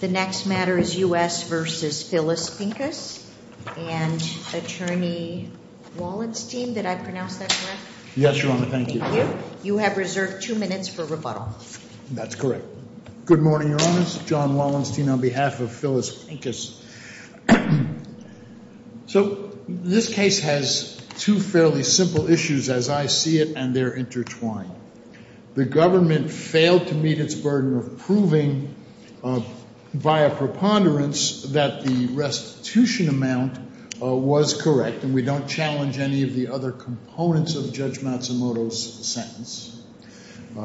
The next matter is U.S. v. Phyllis Pincus and Attorney Wallenstein. Did I pronounce that correct? Yes, Your Honor. Thank you. You have reserved two minutes for rebuttal. That's correct. Good morning, Your Honors. John Wallenstein on behalf of Phyllis Pincus. So this case has two fairly simple issues as I see it, and they're intertwined. The government failed to meet its burden of proving via preponderance that the restitution amount was correct, and we don't challenge any of the other components of Judge Matsumoto's sentence.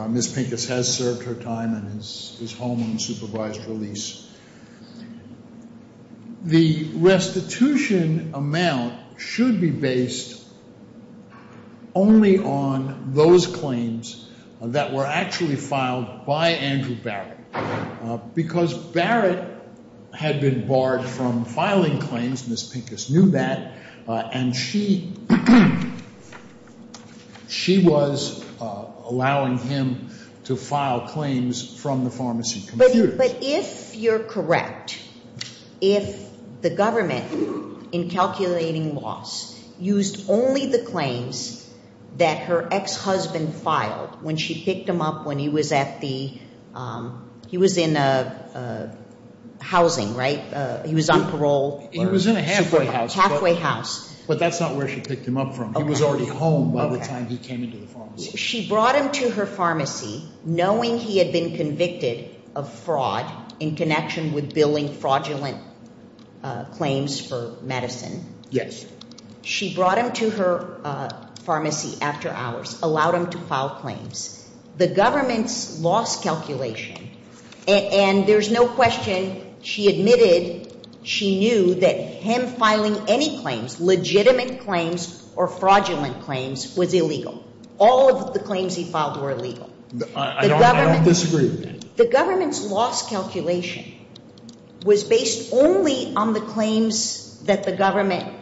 Ms. Pincus has served her time and is home on supervised release. The restitution amount should be based only on those claims that were actually filed by Andrew Barrett because Barrett had been barred from filing claims, Ms. Pincus knew that, and she was allowing him to file claims from the pharmacy computers. But if you're correct, if the government, in calculating loss, used only the claims that her ex-husband filed when she picked him up when he was at the – he was in housing, right? He was on parole? He was in a halfway house. Halfway house. But that's not where she picked him up from. He was already home by the time he came into the pharmacy. She brought him to her pharmacy knowing he had been convicted of fraud in connection with billing fraudulent claims for medicine. Yes. She brought him to her pharmacy after hours, allowed him to file claims. The government's loss calculation, and there's no question she admitted she knew that him filing any claims, legitimate claims or fraudulent claims, was illegal. All of the claims he filed were illegal. I don't disagree with that. The government's loss calculation was based only on the claims that the government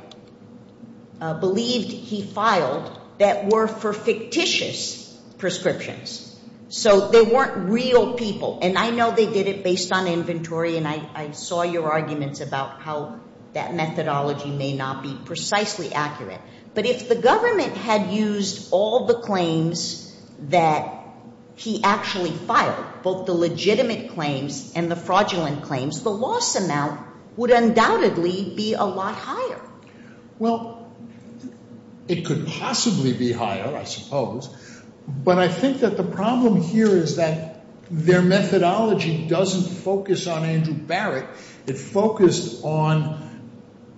believed he filed that were for fictitious prescriptions. So they weren't real people, and I know they did it based on inventory, and I saw your arguments about how that methodology may not be precisely accurate. But if the government had used all the claims that he actually filed, both the legitimate claims and the fraudulent claims, the loss amount would undoubtedly be a lot higher. Well, it could possibly be higher, I suppose. But I think that the problem here is that their methodology doesn't focus on Andrew Barrett. It focused on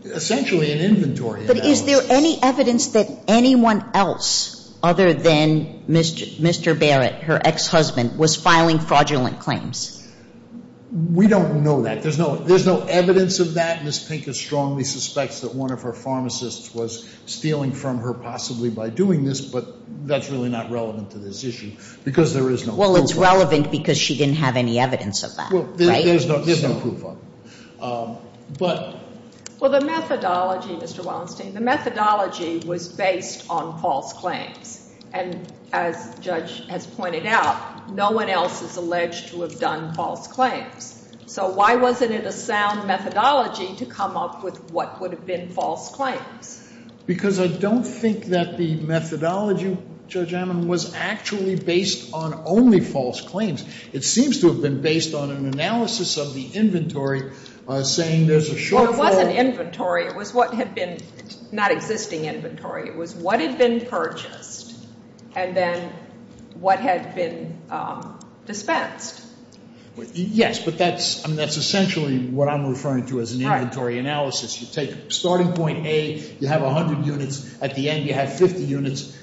essentially an inventory analysis. But is there any evidence that anyone else other than Mr. Barrett, her ex-husband, was filing fraudulent claims? We don't know that. There's no evidence of that. Ms. Pincus strongly suspects that one of her pharmacists was stealing from her possibly by doing this, but that's really not relevant to this issue because there is no proof of it. Well, it's relevant because she didn't have any evidence of that, right? There's no proof of it. Well, the methodology, Mr. Wallenstein, the methodology was based on false claims. And as Judge has pointed out, no one else is alleged to have done false claims. So why wasn't it a sound methodology to come up with what would have been false claims? Because I don't think that the methodology, Judge Annan, was actually based on only false claims. It seems to have been based on an analysis of the inventory saying there's a shortfall. Well, it wasn't inventory. It was what had been not existing inventory. It was what had been purchased and then what had been dispensed. Yes, but that's essentially what I'm referring to as an inventory analysis. You take starting point A, you have 100 units. At the end, you have 50 units.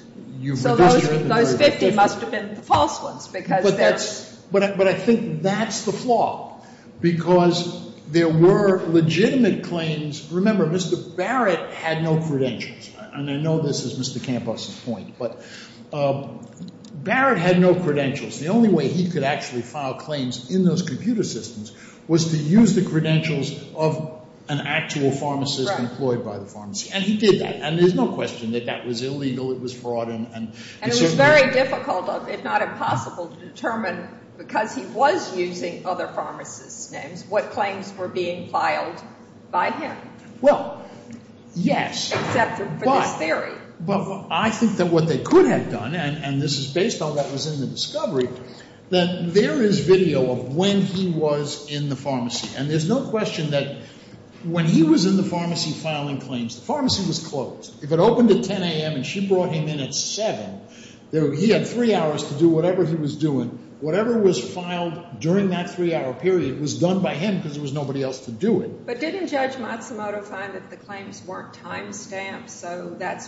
So those 50 must have been the false ones because they're ‑‑ But I think that's the flaw because there were legitimate claims. Remember, Mr. Barrett had no credentials. And I know this is Mr. Campos's point, but Barrett had no credentials. The only way he could actually file claims in those computer systems was to use the credentials of an actual pharmacist employed by the pharmacy. And he did that. And there's no question that that was illegal. It was fraud. And it was very difficult, if not impossible, to determine because he was using other pharmacists' names what claims were being filed by him. Well, yes. Except for this theory. But I think that what they could have done, and this is based on what was in the discovery, that there is video of when he was in the pharmacy. And there's no question that when he was in the pharmacy filing claims, the pharmacy was closed. If it opened at 10 a.m. and she brought him in at 7, he had three hours to do whatever he was doing. Whatever was filed during that three‑hour period was done by him because there was nobody else to do it. But didn't Judge Matsumoto find that the claims weren't timestamped, so that's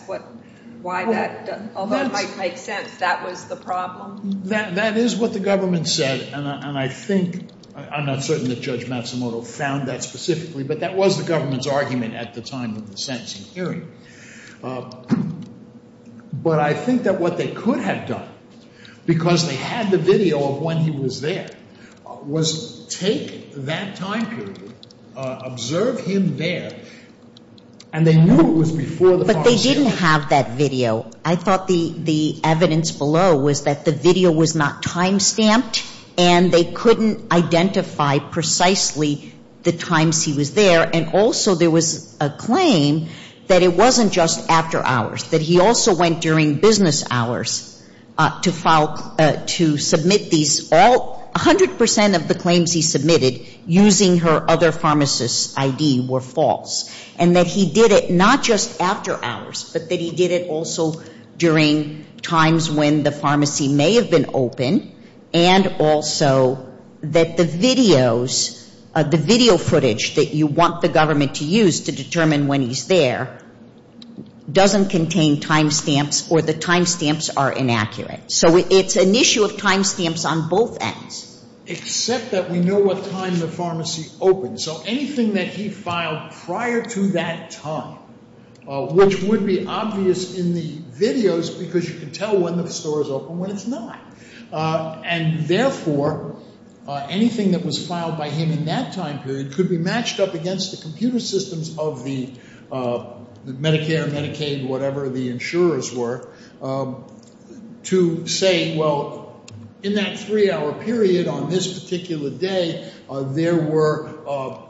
why that ‑‑ although it might make sense, that was the problem? That is what the government said, and I think ‑‑ I'm not certain that Judge Matsumoto found that specifically, but that was the government's argument at the time of the sentencing hearing. But I think that what they could have done, because they had the video of when he was there, was take that time period, observe him there, and they knew it was before the pharmacy. But they didn't have that video. I thought the evidence below was that the video was not timestamped, and they couldn't identify precisely the times he was there. And also there was a claim that it wasn't just after hours, that he also went during business hours to submit these all ‑‑ 100% of the claims he submitted using her other pharmacist's I.D. were false. And that he did it not just after hours, but that he did it also during times when the pharmacy may have been open, and also that the videos, the video footage that you want the government to use to determine when he's there, doesn't contain timestamps or the timestamps are inaccurate. So it's an issue of timestamps on both ends. Except that we know what time the pharmacy opened. So anything that he filed prior to that time, which would be obvious in the videos, because you can tell when the store is open when it's not. And therefore, anything that was filed by him in that time period could be matched up against the computer systems of the Medicare, Medicaid, whatever the insurers were, to say, well, in that three‑hour period on this particular day, there were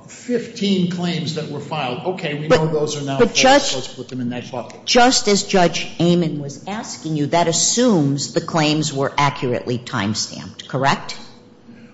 15 claims that were filed. Okay, we know those are now false. Let's put them in that bucket. Just as Judge Amon was asking you, that assumes the claims were accurately timestamped, correct?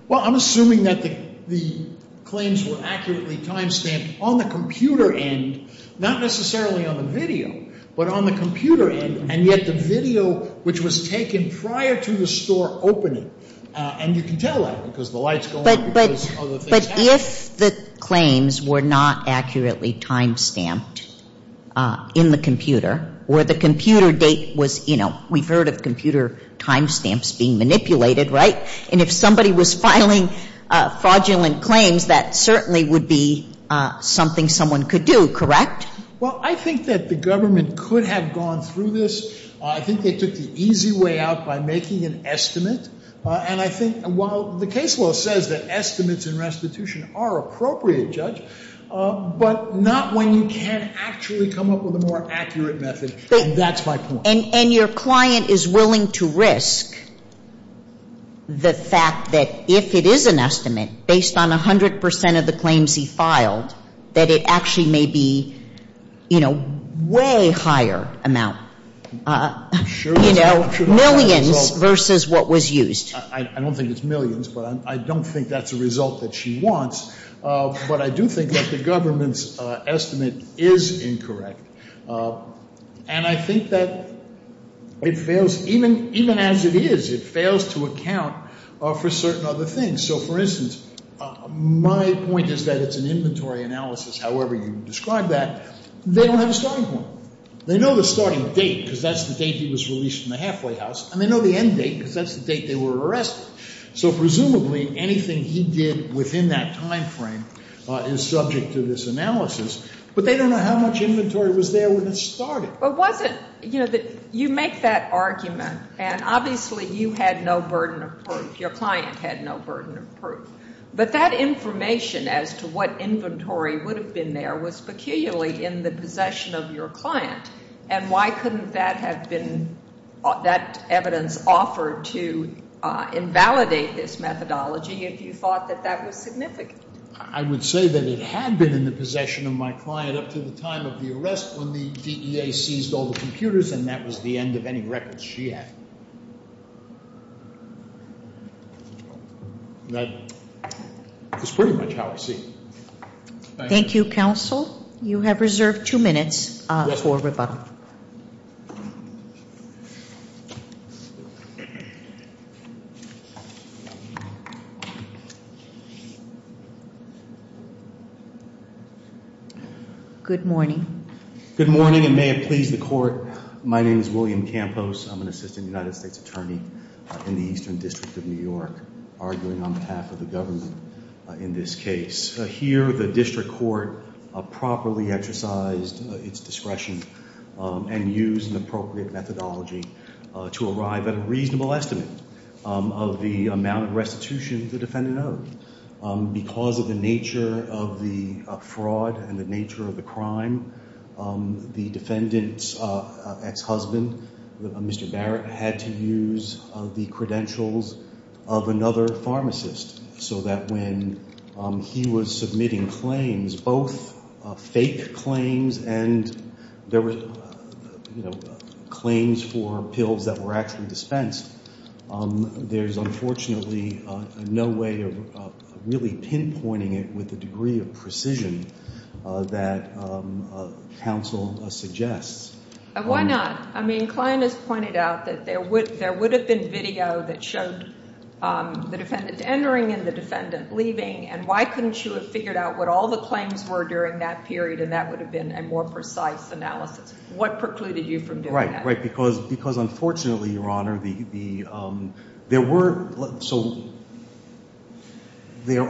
Well, I'm assuming that the claims were accurately timestamped on the computer end, not necessarily on the video, but on the computer end, and yet the video which was taken prior to the store opening. And you can tell that because the lights go on because other things happen. But if the claims were not accurately timestamped in the computer, where the computer date was, you know, we've heard of computer timestamps being manipulated, right? And if somebody was filing fraudulent claims, that certainly would be something someone could do, correct? Well, I think that the government could have gone through this. I think they took the easy way out by making an estimate. And I think while the case law says that estimates in restitution are appropriate, Judge, but not when you can't actually come up with a more accurate method. That's my point. And your client is willing to risk the fact that if it is an estimate based on 100 percent of the claims he filed, that it actually may be, you know, way higher amount. You know, millions versus what was used. I don't think it's millions, but I don't think that's a result that she wants. But I do think that the government's estimate is incorrect. And I think that it fails, even as it is, it fails to account for certain other things. So, for instance, my point is that it's an inventory analysis, however you describe that. They don't have a starting point. They know the starting date because that's the date he was released from the halfway house. And they know the end date because that's the date they were arrested. So, presumably, anything he did within that time frame is subject to this analysis. But they don't know how much inventory was there when it started. But was it, you know, you make that argument, and obviously you had no burden of proof. Your client had no burden of proof. But that information as to what inventory would have been there was peculiarly in the possession of your client. And why couldn't that have been, that evidence offered to invalidate this methodology if you thought that that was significant? I would say that it had been in the possession of my client up to the time of the arrest when the DEA seized all the computers. And that was the end of any records she had. That is pretty much how I see it. Thank you, counsel. You have reserved two minutes for rebuttal. Good morning. Good morning, and may it please the court. My name is William Campos. I'm an assistant United States attorney in the Eastern District of New York, arguing on behalf of the government in this case. Here, the district court properly exercised its discretion and used an appropriate methodology to arrive at a reasonable estimate of the amount of restitution the defendant owed. Because of the nature of the fraud and the nature of the crime, the defendant's ex-husband, Mr. Barrett, had to use the credentials of another pharmacist so that when he was submitting claims, both fake claims and claims for pills that were actually dispensed, there's unfortunately no way of really pinpointing it with the degree of precision that counsel suggests. Why not? I mean, Klein has pointed out that there would have been video that showed the defendant entering and the defendant leaving. And why couldn't you have figured out what all the claims were during that period, and that would have been a more precise analysis? What precluded you from doing that? Because unfortunately, Your Honor, there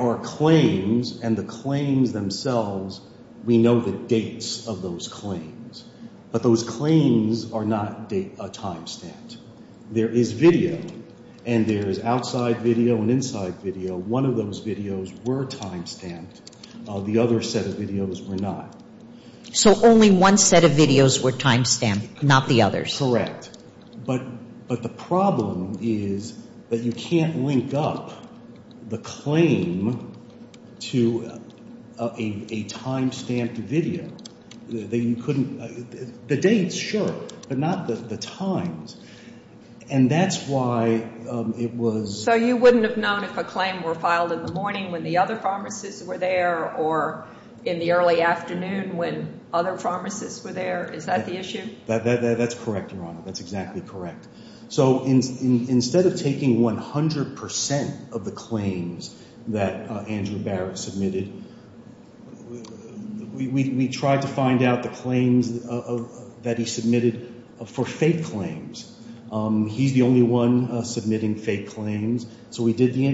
are claims, and the claims themselves, we know the dates of those claims. But those claims are not a time stamp. There is video, and there is outside video and inside video. One of those videos were time stamped. The other set of videos were not. So only one set of videos were time stamped, not the others? Correct. But the problem is that you can't link up the claim to a time-stamped video. You couldn't – the dates, sure, but not the times. And that's why it was – So you wouldn't have known if a claim were filed in the morning when the other pharmacists were there or in the early afternoon when other pharmacists were there? Is that the issue? That's correct, Your Honor. That's exactly correct. So instead of taking 100 percent of the claims that Andrew Barrett submitted, we tried to find out the claims that he submitted for fake claims. He's the only one submitting fake claims. So we did the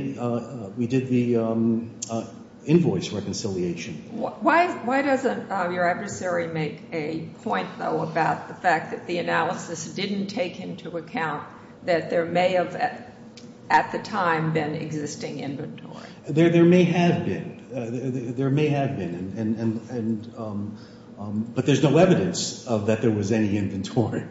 invoice reconciliation. Why doesn't your adversary make a point, though, about the fact that the analysis didn't take into account that there may have at the time been existing inventory? There may have been. There may have been. But there's no evidence that there was any inventory.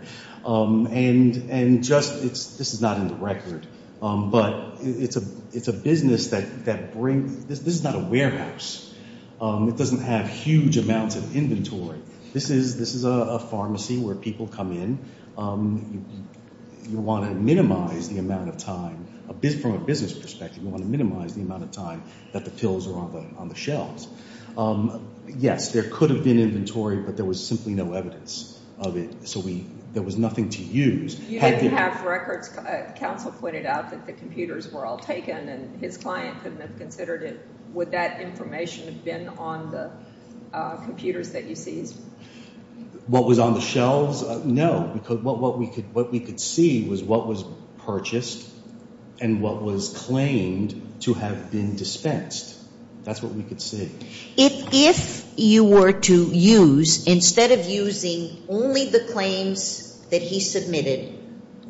And just – this is not in the record, but it's a business that brings – this is not a warehouse. It doesn't have huge amounts of inventory. This is a pharmacy where people come in. You want to minimize the amount of time – from a business perspective, you want to minimize the amount of time that the pills are on the shelves. Yes, there could have been inventory, but there was simply no evidence of it. So there was nothing to use. You didn't have records. Counsel pointed out that the computers were all taken, and his client couldn't have considered it. Would that information have been on the computers that you seized? What was on the shelves? No, because what we could see was what was purchased and what was claimed to have been dispensed. That's what we could see. If you were to use, instead of using only the claims that he submitted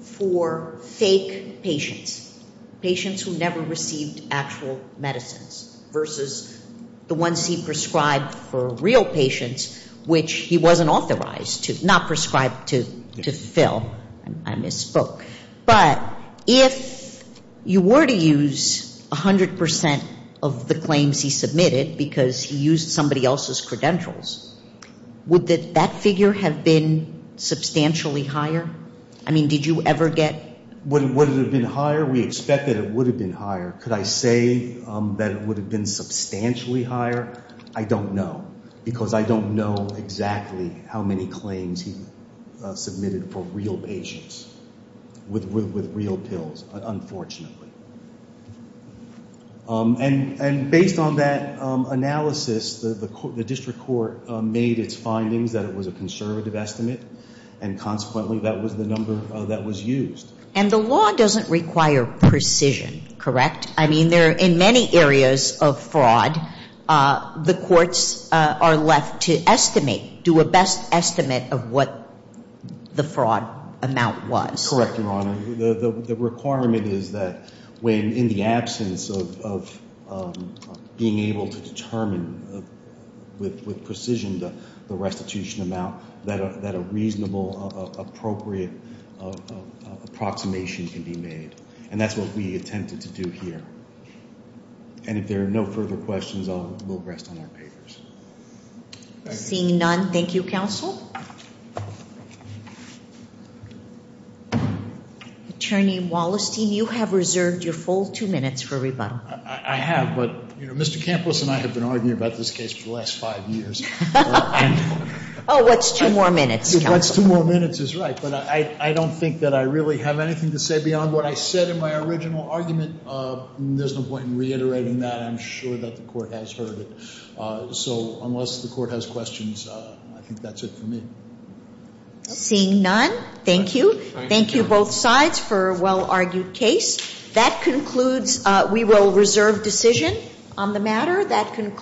for fake patients, patients who never received actual medicines versus the ones he prescribed for real patients, which he wasn't authorized to – not prescribed to fill. I misspoke. But if you were to use 100 percent of the claims he submitted because he used somebody else's credentials, would that figure have been substantially higher? I mean, did you ever get – Would it have been higher? We expect that it would have been higher. Could I say that it would have been substantially higher? I don't know, because I don't know exactly how many claims he submitted for real patients with real pills, unfortunately. And based on that analysis, the district court made its findings that it was a conservative estimate, and consequently that was the number that was used. And the law doesn't require precision, correct? I mean, there – in many areas of fraud, the courts are left to estimate, do a best estimate of what the fraud amount was. Correct, Your Honor. The requirement is that when, in the absence of being able to determine with precision the restitution amount, that a reasonable, appropriate approximation can be made. And that's what we attempted to do here. And if there are no further questions, we'll rest on our papers. Seeing none, thank you, counsel. Attorney Wallerstein, you have reserved your full two minutes for rebuttal. I have, but Mr. Campos and I have been arguing about this case for the last five years. Oh, what's two more minutes, counsel? What's two more minutes is right, but I don't think that I really have anything to say beyond what I said in my original argument. There's no point in reiterating that. I'm sure that the court has heard it. So unless the court has questions, I think that's it for me. Seeing none, thank you. Thank you, both sides, for a well-argued case. That concludes – we will reserve decision on the matter.